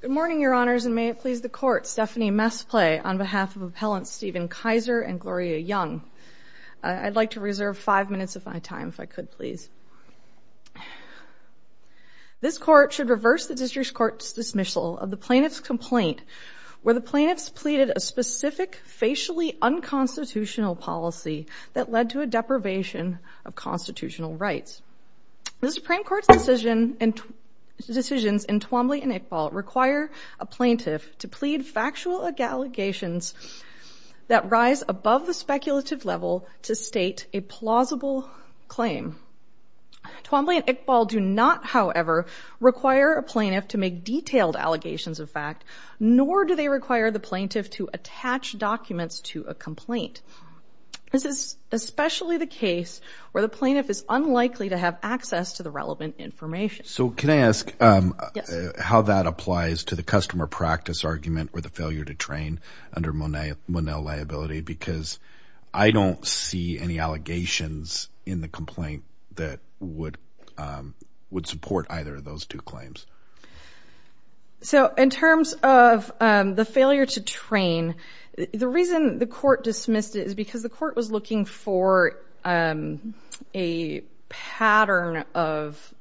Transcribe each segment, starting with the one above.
Good morning, Your Honors, and may it please the Court, Stephanie Mesplay on behalf of Appellants Stephen Kayser and Gloria Young. I'd like to reserve five minutes of my time if I could, please. This Court should reverse the District Court's dismissal of the plaintiff's complaint where the plaintiff's pleaded a specific, facially unconstitutional policy that led to a deprivation of constitutional rights. The Supreme Court's decisions in Twombly and Iqbal require a plaintiff to plead factual allegations that rise above the speculative level to state a plausible claim. Twombly and Iqbal do not, however, require a plaintiff to make detailed allegations of fact, nor do they require the plaintiff to attach documents to a complaint. This is especially the case where the plaintiff is unlikely to have access to the relevant information. So can I ask how that applies to the customer practice argument or the failure to train under Monell liability because I don't see any allegations in the complaint that would support either of those two claims. So in terms of the failure to train, the reason the Court dismissed it is because the Court was looking for a pattern of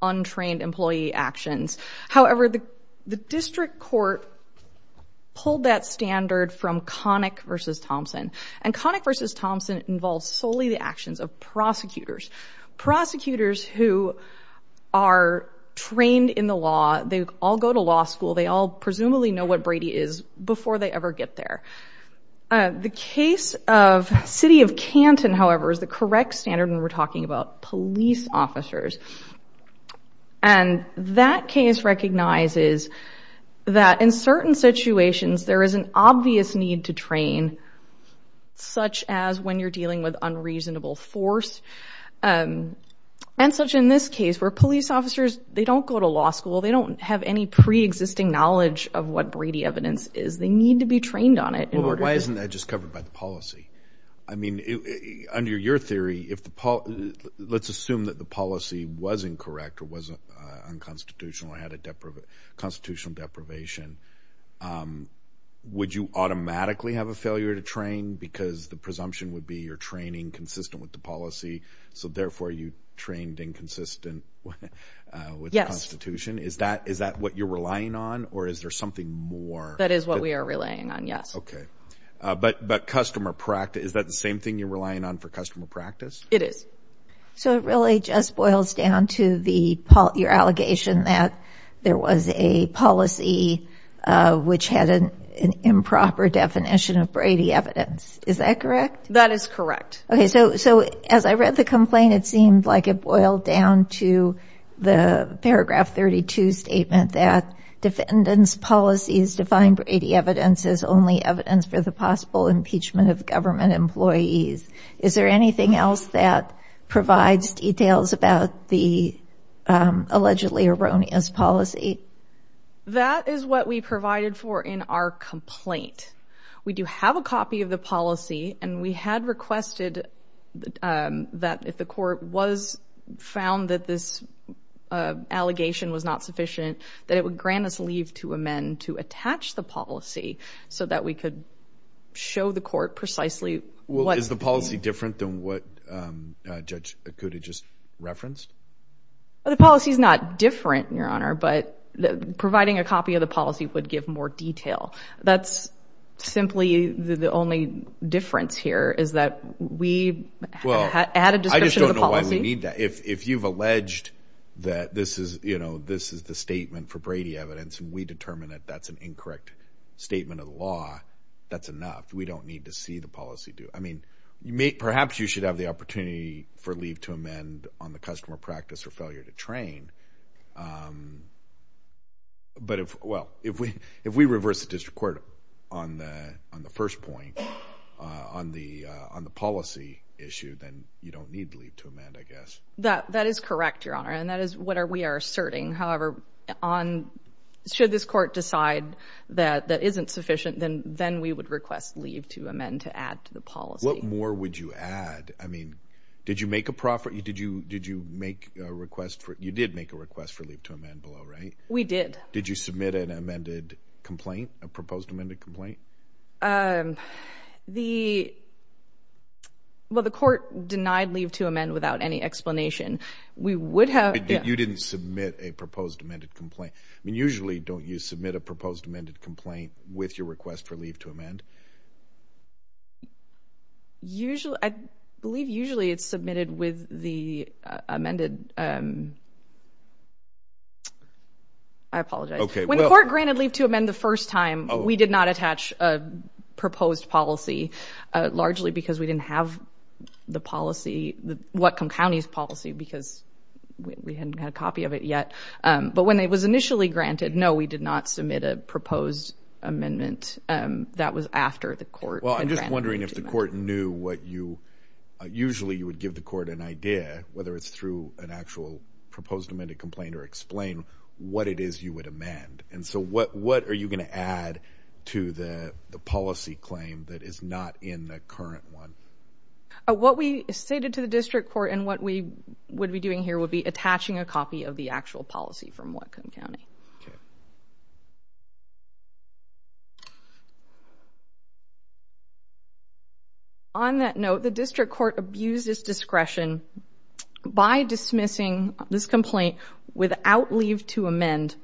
untrained employee actions. However, the District Court pulled that standard from Connick v. Thompson and Connick v. Thompson involves solely the actions of prosecutors. Prosecutors who are trained in the law, they all go to law school, they all presumably know what Brady is before they ever get there. The case of City of Canton, however, is the correct standard when we're talking about police officers. And that case recognizes that in certain situations there is an obvious need to train, such as when you're dealing with unreasonable force and such in this case where police officers, they don't go to law school, they don't have any pre-existing knowledge of what Brady evidence is. They need to be trained on it. But why isn't that just covered by the policy? I mean, under your theory, let's assume that the policy was incorrect or was unconstitutional or had a constitutional deprivation, would you automatically have a failure to train because the presumption would be you're training consistent with the policy, so therefore you trained inconsistent with the Constitution? Is that what you're relying on or is there something more? That is what we are relying on, yes. Okay. But customer practice, is that the same thing you're relying on for customer practice? It is. So it really just boils down to your allegation that there was a policy which had an improper definition of Brady evidence, is that correct? That is correct. Okay, so as I read the complaint, it seemed like it boiled down to the paragraph 32 statement that defendants' policies define Brady evidence as only evidence for the possible impeachment of government employees. Is there anything else that provides details about the allegedly erroneous policy? That is what we provided for in our complaint. We do have a copy of the policy and we had that it would grant us leave to amend to attach the policy so that we could show the court precisely what- Is the policy different than what Judge Akuta just referenced? The policy is not different, Your Honor, but providing a copy of the policy would give more detail. That's simply the only difference here is that we had a description of the policy- for Brady evidence and we determined that that's an incorrect statement of the law. That's enough. We don't need to see the policy do- I mean, perhaps you should have the opportunity for leave to amend on the customer practice or failure to train, but if- well, if we reverse the district court on the first point, on the policy issue, then you don't need leave to amend, I guess. That is correct, Your Honor, and that is what we are asserting. However, on- should this court decide that that isn't sufficient, then we would request leave to amend to add to the policy. What more would you add? I mean, did you make a profit- did you make a request for- you did make a request for leave to amend below, right? We did. Did you submit an amended complaint, a proposed amended complaint? The- well, the court denied leave to amend without any explanation. We would have- You didn't submit a proposed amended complaint. I mean, usually don't you submit a proposed amended complaint with your request for leave to amend? Usually- I believe usually it's submitted with the amended- I apologize. Okay, well- We didn't submit a proposed policy, largely because we didn't have the policy- Whatcom County's policy, because we hadn't had a copy of it yet, but when it was initially granted, no, we did not submit a proposed amendment. That was after the court- Well, I'm just wondering if the court knew what you- usually you would give the court an idea, whether it's through an actual proposed amended complaint or explain what it is you would amend, and so what are you going to add to the policy claim that is not in the current one? What we stated to the district court and what we would be doing here would be attaching a copy of the actual policy from Whatcom County. On that note, the district court abused its discretion by dismissing this complaint without leave to amend.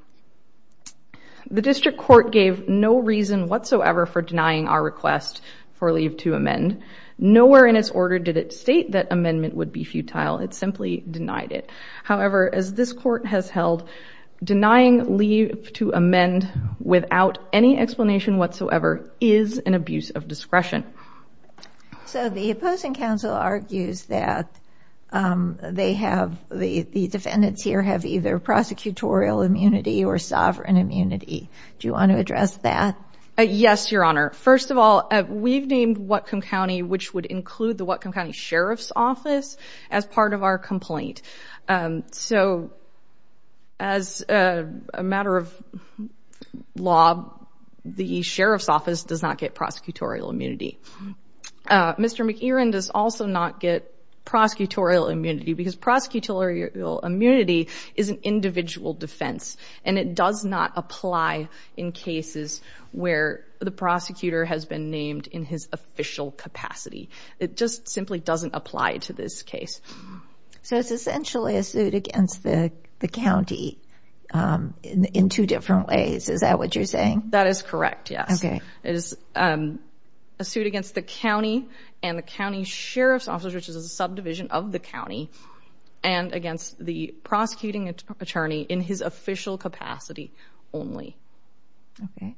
The district court gave no reason whatsoever for denying our request for leave to amend. Nowhere in its order did it state that amendment would be futile. It simply denied it. However, as this court has held, denying leave to amend without any explanation whatsoever is an abuse of discretion. So, the opposing counsel argues that they have- the defendants here have either prosecutorial immunity or sovereign immunity. Do you want to address that? Yes, Your Honor. First of all, we've named Whatcom County, which would include the Whatcom County Sheriff's Office, as part of our complaint. So, as a matter of law, the Sheriff's Office does not get prosecutorial immunity. Mr. McEren does also not get prosecutorial immunity because prosecutorial immunity is an individual defense and it does not apply in cases where the prosecutor has been named in his official capacity. It just simply doesn't apply to this case. So, it's essentially a suit against the county in two different ways. Is that what you're saying? That is correct, yes. It is a suit against the county and the county sheriff's office, which is a subdivision of the county, and against the prosecuting attorney in his official capacity only. Okay.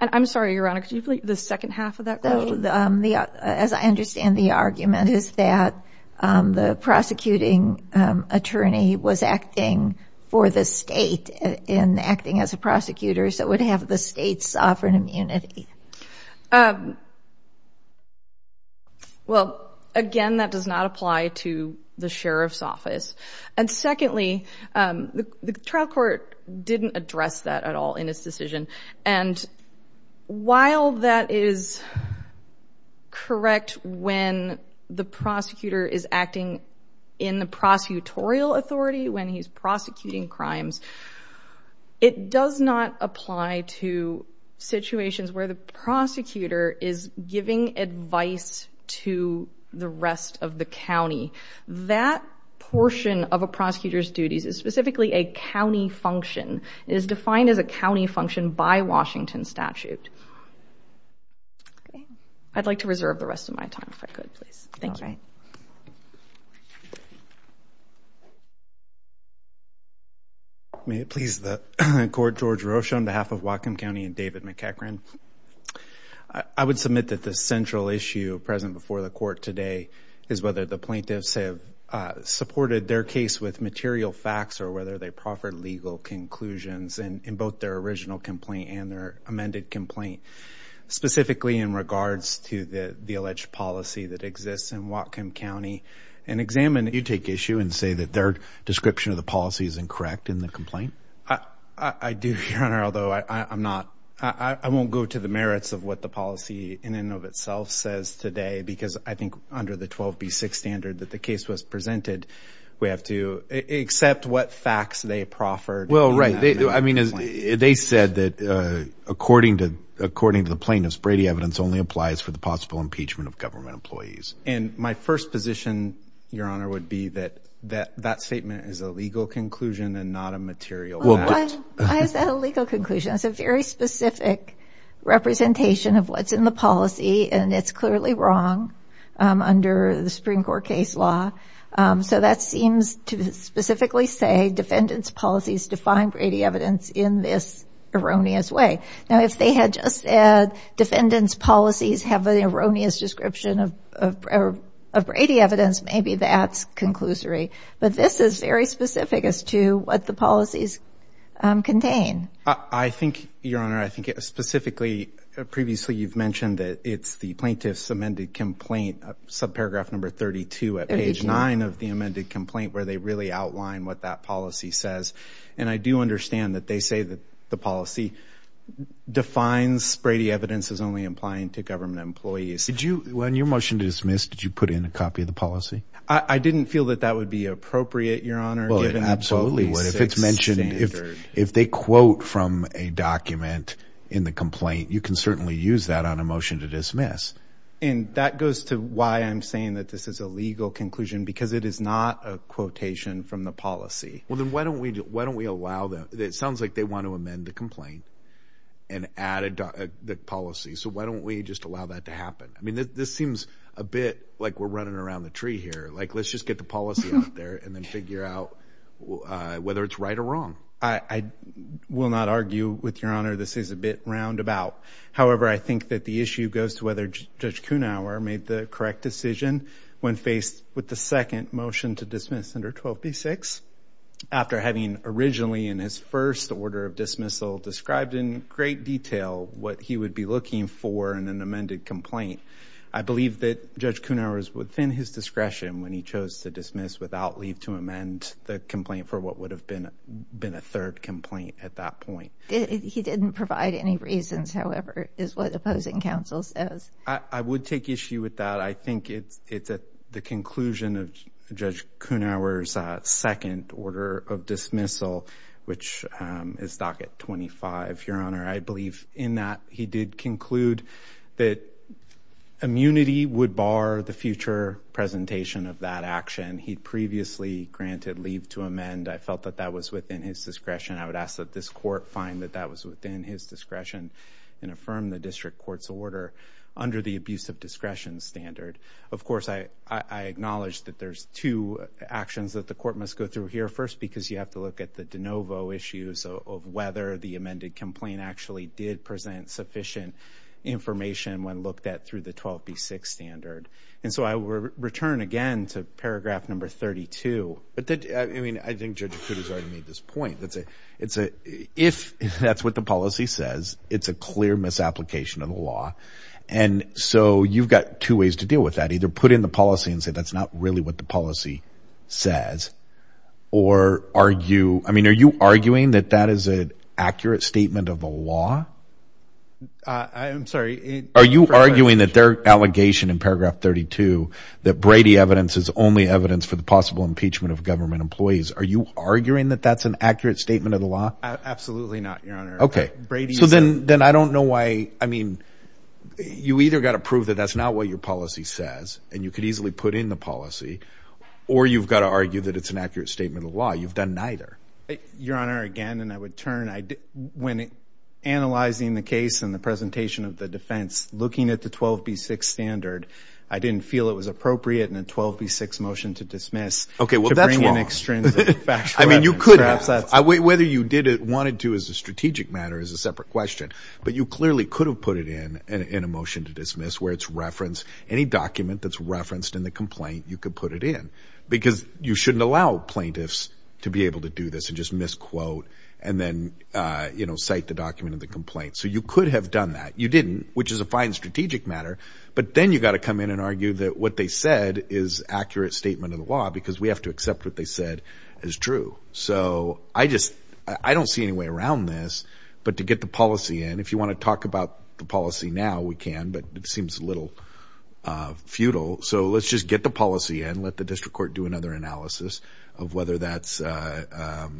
And I'm sorry, Your Honor, could you repeat the second half of that question? As I understand the argument, is that the prosecuting attorney was acting for the state in acting as a prosecutor, so it would have the state's sovereign immunity. Well, again, that does not apply to the sheriff's office. And secondly, the trial court didn't address that at all in his decision. And while that is correct when the prosecutor is acting in the prosecutorial authority, when he's prosecuting crimes, it does not apply to situations where the prosecutor is giving advice to the rest of the county. That portion of a prosecutor's duties is specifically a county function. It is defined as a county function by Washington statute. Okay. I'd like to reserve the rest of my time, if I could, please. Thank you. May it please the court, George Rocha on behalf of Whatcom County and David McEachran. I would submit that the central issue present before the court today is whether the plaintiffs have supported their case with material facts or whether they proffered legal conclusions in both their original complaint and their amended complaint, specifically in regards to the alleged policy that exists in Whatcom County. And examine if you take issue and say that their description of the policy is incorrect in the complaint. I do, Your Honor, although I won't go to the merits of what the policy in and of itself says today, because I think under the 12B6 standard that the case was presented, we have to accept what facts they proffered. Well, right. They said that according to the plaintiffs, Brady evidence only applies for the possible impeachment of government employees. And my first position, Your Honor, would be that that statement is a legal conclusion and not a material fact. Well, why is that a legal conclusion? It's a very specific representation of what's in the policy, and it's clearly wrong under the Supreme Court case law. So that seems to specifically say defendants' policies define Brady evidence in this erroneous way. Now, if they had just said defendants' policies have an erroneous description of Brady evidence, maybe that's conclusory. But this is very specific as to what the policies contain. I think, Your Honor, I think specifically, previously you've mentioned that it's the plaintiffs' amended complaint, subparagraph number 32 at page 9 of the amended complaint, where they really outline what that policy says. And I do understand that they say that the policy defines Brady evidence as only applying to government employees. Did you, on your motion to dismiss, did you put in a copy of the policy? I didn't feel that that would be appropriate, Your Honor, given the quote, the six standards. Well, it absolutely would. If it's mentioned, if they quote from a document in the complaint, you can certainly use that on a motion to dismiss. And that goes to why I'm saying that this is a legal conclusion, because it is not a quotation from the policy. Well, then why don't we allow that? It sounds like they want to amend the complaint and add a policy. So why don't we just allow that to happen? I mean, this seems a bit like we're running around the tree here. Like, let's just get the policy out there and then figure out whether it's right or wrong. I will not argue with Your Honor. This is a bit roundabout. However, I think that the Judge Kuhnauer made the correct decision when faced with the second motion to dismiss under 12b-6. After having originally in his first order of dismissal described in great detail what he would be looking for in an amended complaint, I believe that Judge Kuhnauer is within his discretion when he chose to dismiss without leave to amend the complaint for what would have been been a third complaint at that point. He didn't provide any reasons, however, is what opposing counsel says. I would take issue with that. I think it's at the conclusion of Judge Kuhnauer's second order of dismissal, which is docket 25, Your Honor. I believe in that he did conclude that immunity would bar the future presentation of that action. He'd previously granted leave to amend. I felt that that was within his discretion. I would ask that this court find that that was within his discretion and affirm the district court's order under the abuse of discretion standard. Of course, I acknowledge that there's two actions that the court must go through here. First, because you have to look at the de novo issues of whether the amended complaint actually did present sufficient information when looked at through the 12b-6 standard. I will return again to paragraph number 32. I think Judge Akuta's already made this point. If that's what the policy says, it's a clear misapplication of the law. You've got two ways to deal with that. Either put in the policy and say that's not really what the policy says, or are you arguing that that is an accurate statement of the law? I'm sorry. Are you arguing that their allegation in paragraph 32, that Brady evidence is only evidence for the possible impeachment of government employees. Are you arguing that that's an accurate statement of the law? Absolutely not, Your Honor. Okay. So then I don't know why, I mean, you either got to prove that that's not what your policy says and you could easily put in the policy, or you've got to argue that it's an accurate statement of the law. You've done neither. Your Honor, again, and I would turn, when analyzing the case and the presentation of the defense, looking at the 12B6 standard, I didn't feel it was appropriate in a 12B6 motion to dismiss to bring in an extrinsic factual evidence. Okay. Well, that's wrong. I mean, you could have. Whether you wanted to as a strategic matter is a separate question, but you clearly could have put it in in a motion to dismiss where it's referenced. Any document that's referenced in the complaint, you could put it in because you shouldn't allow plaintiffs to be able to do this and just misquote and then cite the document of the complaint. So you could have done that. You didn't, which is a fine strategic matter, but then you've got to come in and argue that what they said is accurate statement of the law because we have to accept what they said as true. So I just, I don't see any way around this, but to get the policy in, if you want to talk about the policy now, we can, but it seems a little futile. So let's just get the policy in, let the district court do another analysis of whether that's a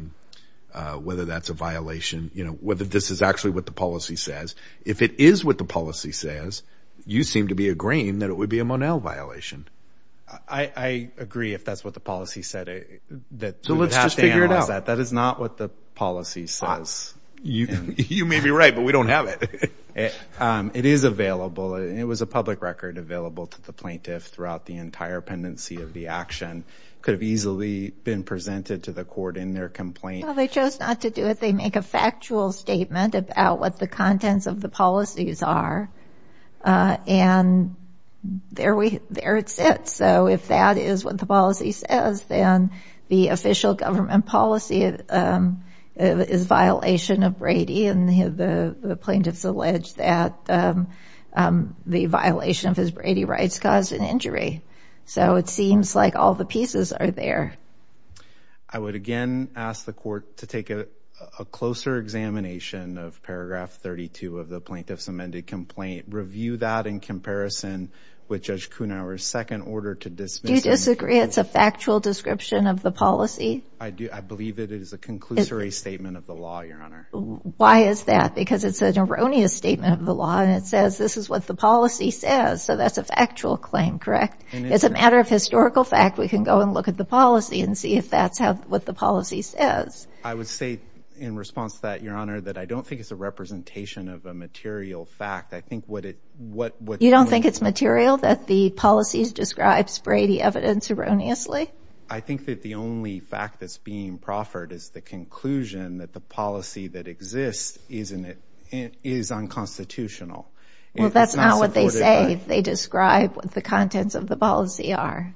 violation, whether this is actually what the policy says. If it is what the policy says, you seem to be agreeing that it would be a Monel violation. I agree if that's what the policy said. So let's just figure it out. That is not what the policy says. You may be right, but we don't have it. It is available. It was a public record available to the plaintiff throughout the entire pendency of the action could have easily been presented to the court in their complaint. Well, they chose not to do it. They make a factual statement about what the contents of the policies are. Uh, and there we, there it sits. So if that is what the policy says, then the official government policy, um, is violation of Brady and the plaintiff's alleged that, um, um, the violation of his Brady rights caused an injury. So it seems like all the pieces are there. I would again ask the court to take a closer examination of paragraph 32 of the plaintiff's amended complaint. Review that in comparison with judge Kuhn our second order to dismiss disagree. It's a factual description of the policy. I do. I believe that it is a conclusory statement of the law. Your Honor. Why is that? Because it's an erroneous statement of the law and it says, this is what the policy says. So that's a factual claim, correct? It's a matter of historical fact. We can go and look at the policy and see if that's how, what the policy says. I would say in response to that, your Honor, that I don't think it's a representation of a material fact. I think what it, what, what you don't think it's material that the policies describes Brady evidence erroneously. I think that the only fact that's being proffered is the conclusion that the policy that exists is in it is unconstitutional. Well, that's not what they say. They describe what the contents of the policy are.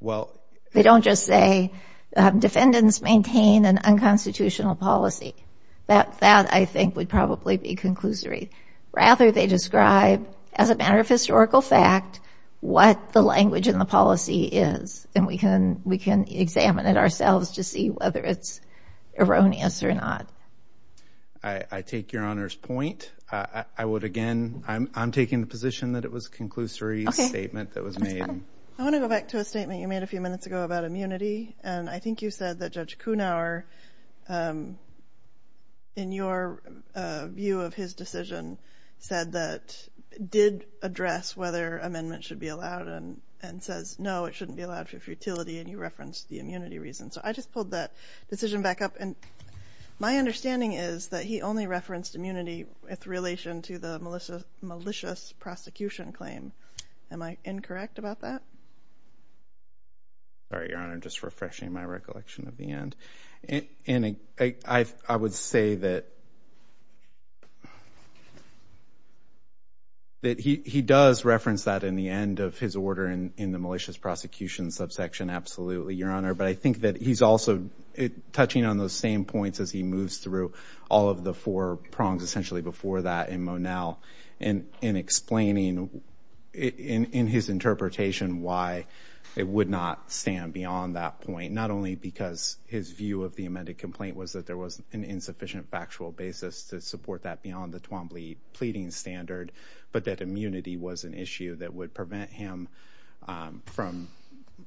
Well, they don't just say, um, defendants maintain an unconstitutional policy. That, that I think would probably be conclusory. Rather, they describe as a matter of historical fact, what the language in the policy is. And we can, we can examine it ourselves to see whether it's erroneous or not. I take your Honor's point. I would again, I'm taking the position that it was a conclusory statement that was made. I want to go back to a statement you made a few minutes ago about immunity. And I think you said that Judge Kuhnauer, um, in your, uh, view of his decision said that, did address whether amendment should be allowed and, and says, no, it shouldn't be allowed for futility and you referenced the immunity reason. So I just pulled that decision back up. And my understanding is that he only referenced immunity with relation to the malicious, malicious prosecution claim. Am I incorrect about that? Sorry, Your Honor. Just refreshing my recollection. And, and I, I, I would say that, that he, he does reference that in the end of his order in, in the malicious prosecution subsection. Absolutely, Your Honor. But I think that he's also touching on those same points as he moves through all of the four prongs essentially before that in Monell and, and explaining in, in his interpretation why it would not stand beyond that point. Not only because his view of the amended complaint was that there was an insufficient factual basis to support that beyond the Twombly pleading standard, but that immunity was an issue that would prevent him, um, from,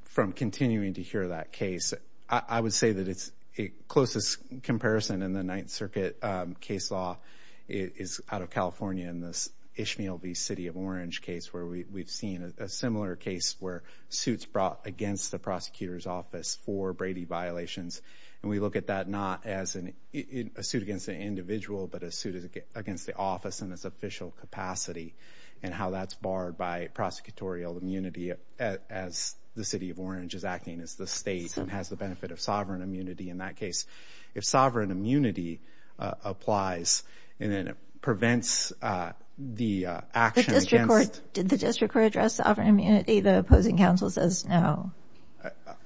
from continuing to hear that case. I would say that it's a closest comparison in the Ninth Circuit case law is out of California in this Ishmael v. City of Orange case where we've seen a similar case where suits brought against the prosecutor's office for Brady violations. And we look at that not as an, a suit against an individual, but a suit against the office in its official capacity and how that's barred by prosecutorial immunity as the City of Orange is acting as the state and has the benefit of sovereign immunity in that case. If sovereign immunity applies, and then it prevents, uh, the action against... The district court, did the district court address sovereign immunity? The opposing counsel says no.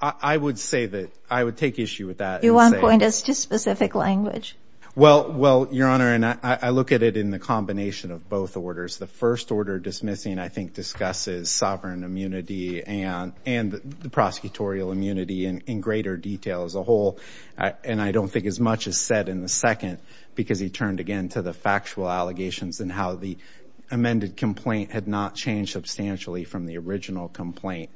I would say that I would take issue with that. Do you want to point us to specific language? Well, well, Your Honor, and I look at it in the combination of both orders. The first order dismissing, I think, discusses sovereign immunity and, and the prosecutorial immunity in, in greater detail as a whole. And I don't think as much is said in the second because he turned again to the factual allegations and how the amended complaint had not changed substantially from the original complaint.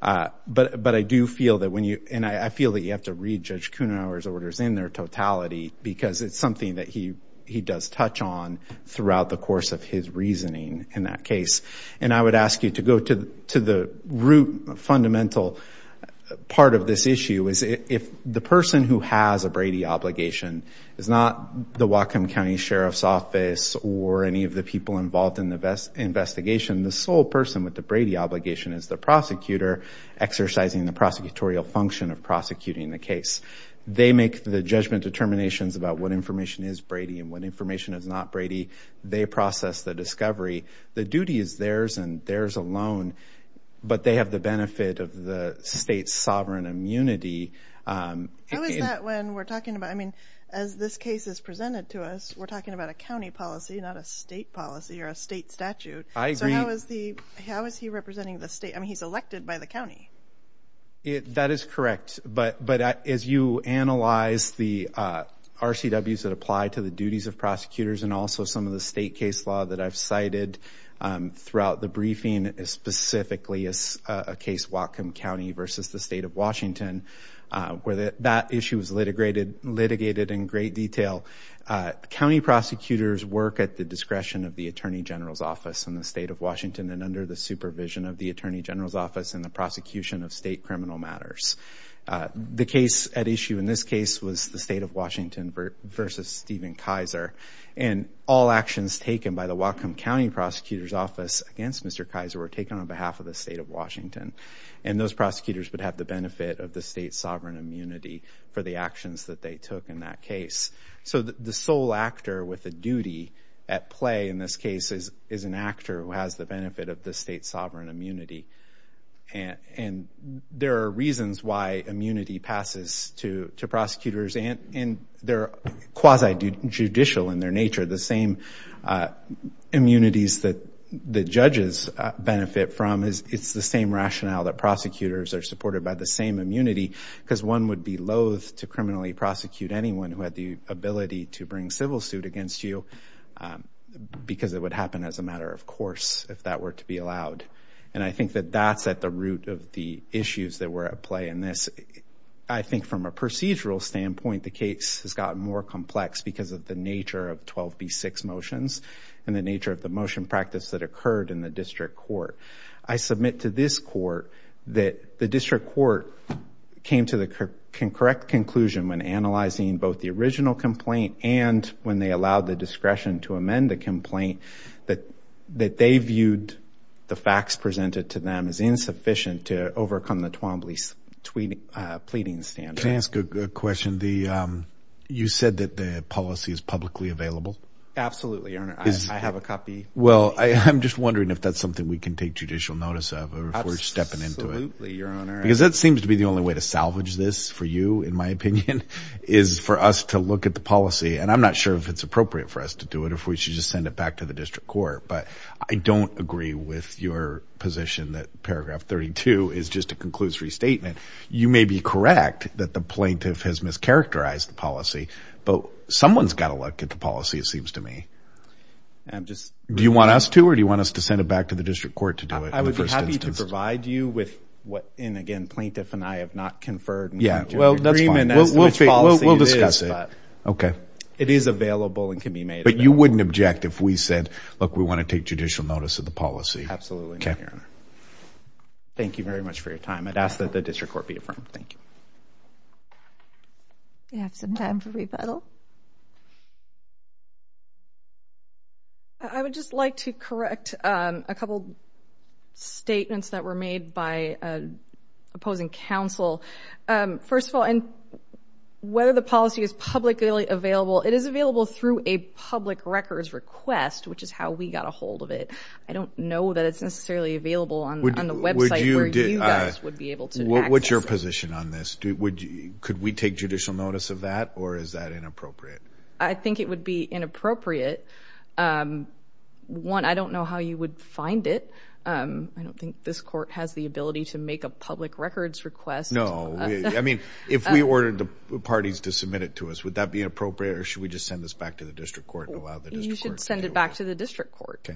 Uh, but, but I do feel that when you, and I feel that you have to read Judge Kuhnauer's orders in their totality because it's something that he, he does touch on throughout the course of his reasoning in that case. And I would ask you to go to, to the root fundamental part of this issue is if the person who has a Brady obligation is not the Whatcom County Sheriff's Office or any of the people involved in the investigation, the sole person with the Brady obligation is the prosecutor exercising the prosecutorial function of prosecuting the case. They make the judgment determinations about what information is Brady and what information is not Brady. They process the discovery. The duty is theirs and theirs alone, but they have the benefit of the state's sovereign immunity. Um, how is that when we're talking about, I mean, as this case is presented to us, we're talking about a County policy, not a state policy or a state statute. So how is the, how is he representing the state? I mean, he's elected by the County. That is correct. But, but as you analyze the, uh, RCWs that apply to the duties of prosecutors and also some of the state case law that I've cited, um, throughout the briefing is specifically as a case Whatcom County versus the state of Washington, uh, where the, that issue was litigated, litigated in great detail. Uh, County prosecutors work at the discretion of the Attorney General's office in the state of Washington and under the supervision of the Attorney General's office in the prosecution of state criminal matters. Uh, the case at issue in this case was the state of Washington versus Stephen Kaiser and all actions taken by the Whatcom County prosecutor's office against Mr. Kaiser were taken on behalf of the state of Washington. And those prosecutors would have the benefit of the state sovereign immunity for the actions that they took in that case. So the sole actor with a duty at play in this case is, is an actor who has the benefit of the state sovereign immunity. And there are reasons why immunity passes to, to prosecutors and they're quasi judicial in their nature. The same, uh, immunities that the judges benefit from is it's the same rationale that prosecutors are supported by the same immunity because one would be loath to criminally prosecute anyone who had the ability to bring civil suit against you, um, because it would happen as a matter of course, if that were to be allowed. And I think that that's at the root of the issues that were at play in this. I think from a procedural standpoint, the case has gotten more complex because of the nature of 12B6 motions and the nature of the motion practice that occurred in the district court. I submit to this court that the district court came to the correct conclusion when analyzing both the original complaint and when they allowed the discretion to amend the complaint that, that they viewed the facts presented to them as insufficient to overcome the Twombly pleading standard. Can I ask a question? The, um, you said that the policy is publicly available? Absolutely. I have a copy. Well, I'm just wondering if that's something we can take judicial notice of or if we're stepping into it. Because that seems to be the only way to salvage this for you, in my opinion, is for us to look at the policy. And I'm not sure if it's appropriate for us to do it, if we should just send it back to the district court. But I don't agree with your position that paragraph 32 is just a conclusive restatement. You may be correct that the plaintiff has mischaracterized the policy, but someone's got to look at the policy, it seems to me. Do you want us to, or do you want us to send it back to the district court to do it in the first instance? I would be happy to provide you with what, and again, plaintiff and I have not conferred more on your agreement as to which policy it is, but it is available and can be made available. But you wouldn't object if we said, look, we want to take judicial notice of the policy? Absolutely not, Your Honor. Thank you very much for your time. I'd ask that the district court be affirmed. Thank you. We have some time for rebuttal. I would just like to correct a couple statements that were made by opposing counsel. First of all, whether the policy is publicly available, it is available through a public records request, which is how we got a hold of it. I don't know that it's necessarily available on the What's your position on this? Could we take judicial notice of that, or is that inappropriate? I think it would be inappropriate. One, I don't know how you would find it. I don't think this court has the ability to make a public records request. No. I mean, if we ordered the parties to submit it to us, would that be appropriate, or should we just send this back to the district court and allow the district court to do it? You should send it back to the district court.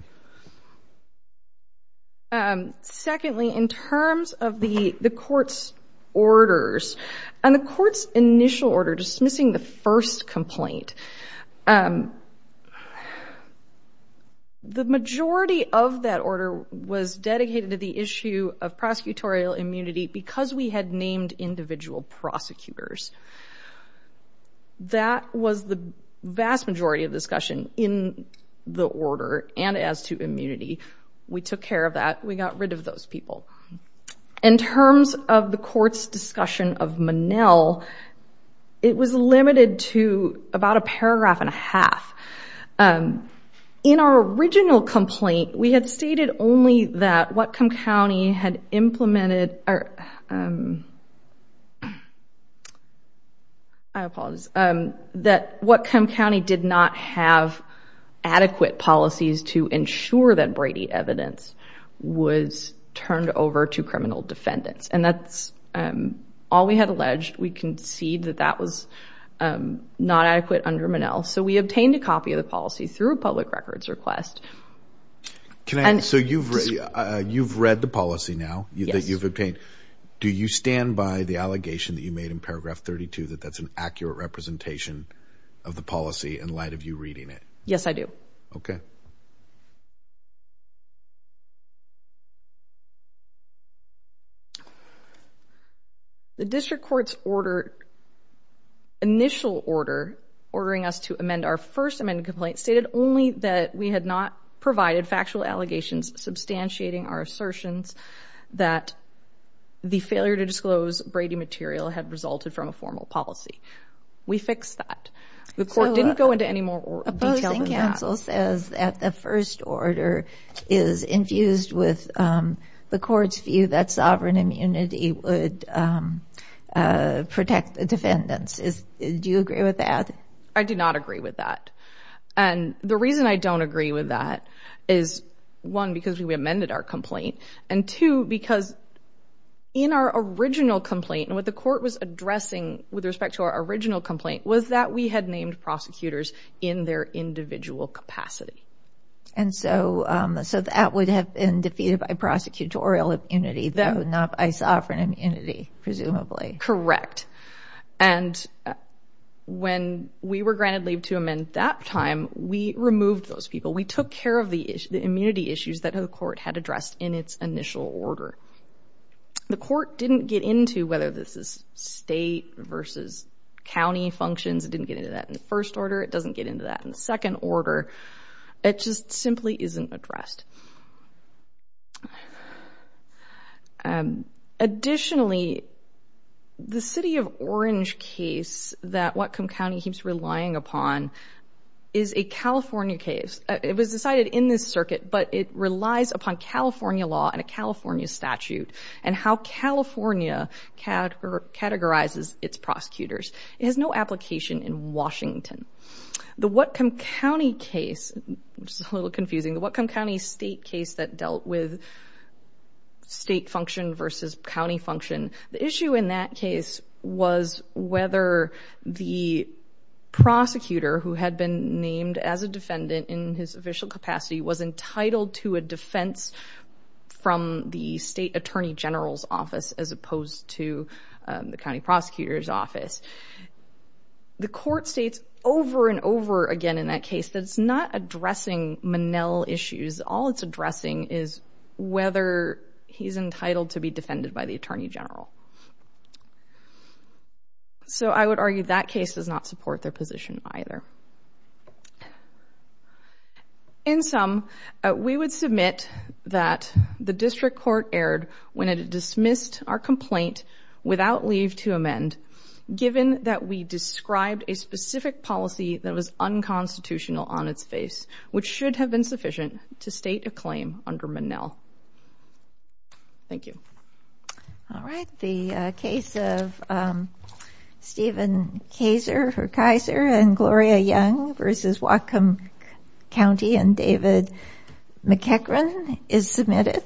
Secondly, in terms of the court's orders, and the court's initial order dismissing the first complaint, the majority of that order was dedicated to the issue of prosecutorial immunity because we had named individual prosecutors. That was the vast majority of the discussion in the order, and as to immunity. We took care of that. We got rid of those people. In terms of the court's discussion of Monell, it was limited to about a paragraph and a half. In our original complaint, we had stated only that Whatcom County had implemented our I apologize, that Whatcom County did not have adequate policies to ensure that Brady evidence was turned over to criminal defendants, and that's all we had alleged. We concede that that was not adequate under Monell, so we obtained a copy of the policy through a public records request. So you've read the policy now that you've obtained. Do you stand by the allegation that you made in paragraph 32 that that's an accurate representation of the policy in light of you reading it? Yes, I do. Okay. The district court's initial order ordering us to amend our first amendment complaint stated only that we had not provided factual allegations substantiating our assertions that the failure to disclose Brady material had resulted from a formal policy. We fixed that. The court didn't go into any more detail than that. A posting counsel says that the first order is infused with the court's view that sovereign immunity would protect the defendants. Do you agree with that? I do not agree with that, and the reason I don't agree with that is one, because we amended our complaint, and two, because in our original complaint and what the court was addressing with respect to our original complaint was that we had named prosecutors in their individual capacity. And so that would have been defeated by prosecutorial immunity, though, not by sovereign immunity, presumably. Correct. And when we were granted leave to amend that time, we removed those people. We took care of the immunity issues that the court had addressed in its initial order. The court didn't get into whether this is state versus county functions. It didn't get into that in the first order. It doesn't get into that in the second order. It just simply isn't addressed. Additionally, the City of Orange case that Whatcom County keeps relying upon is a California case. It was decided in this circuit, but it relies upon California law and a California statute and how California categorizes its prosecutors. It has no application in Washington. The Whatcom County case, which is a little confusing, the Whatcom County state case that dealt with state function versus county function, the issue in that case was whether the prosecutor who had been named as a defendant in his official capacity was entitled to a defense from the state attorney general's office as opposed to the county prosecutor's office. The court states over and over again in that case that it's not addressing Monell issues. All it's addressing is whether he's entitled to be defended by the attorney general. So I would argue that case does not support their position either. In sum, we would submit that the district court erred when it dismissed our complaint without leave to amend, given that we described a specific policy that was unconstitutional on its face, which should have been sufficient to state a claim under Monell. Thank you. All right. The case of Stephen Kaiser and Gloria Young versus Whatcom County and David McEachran is submitted.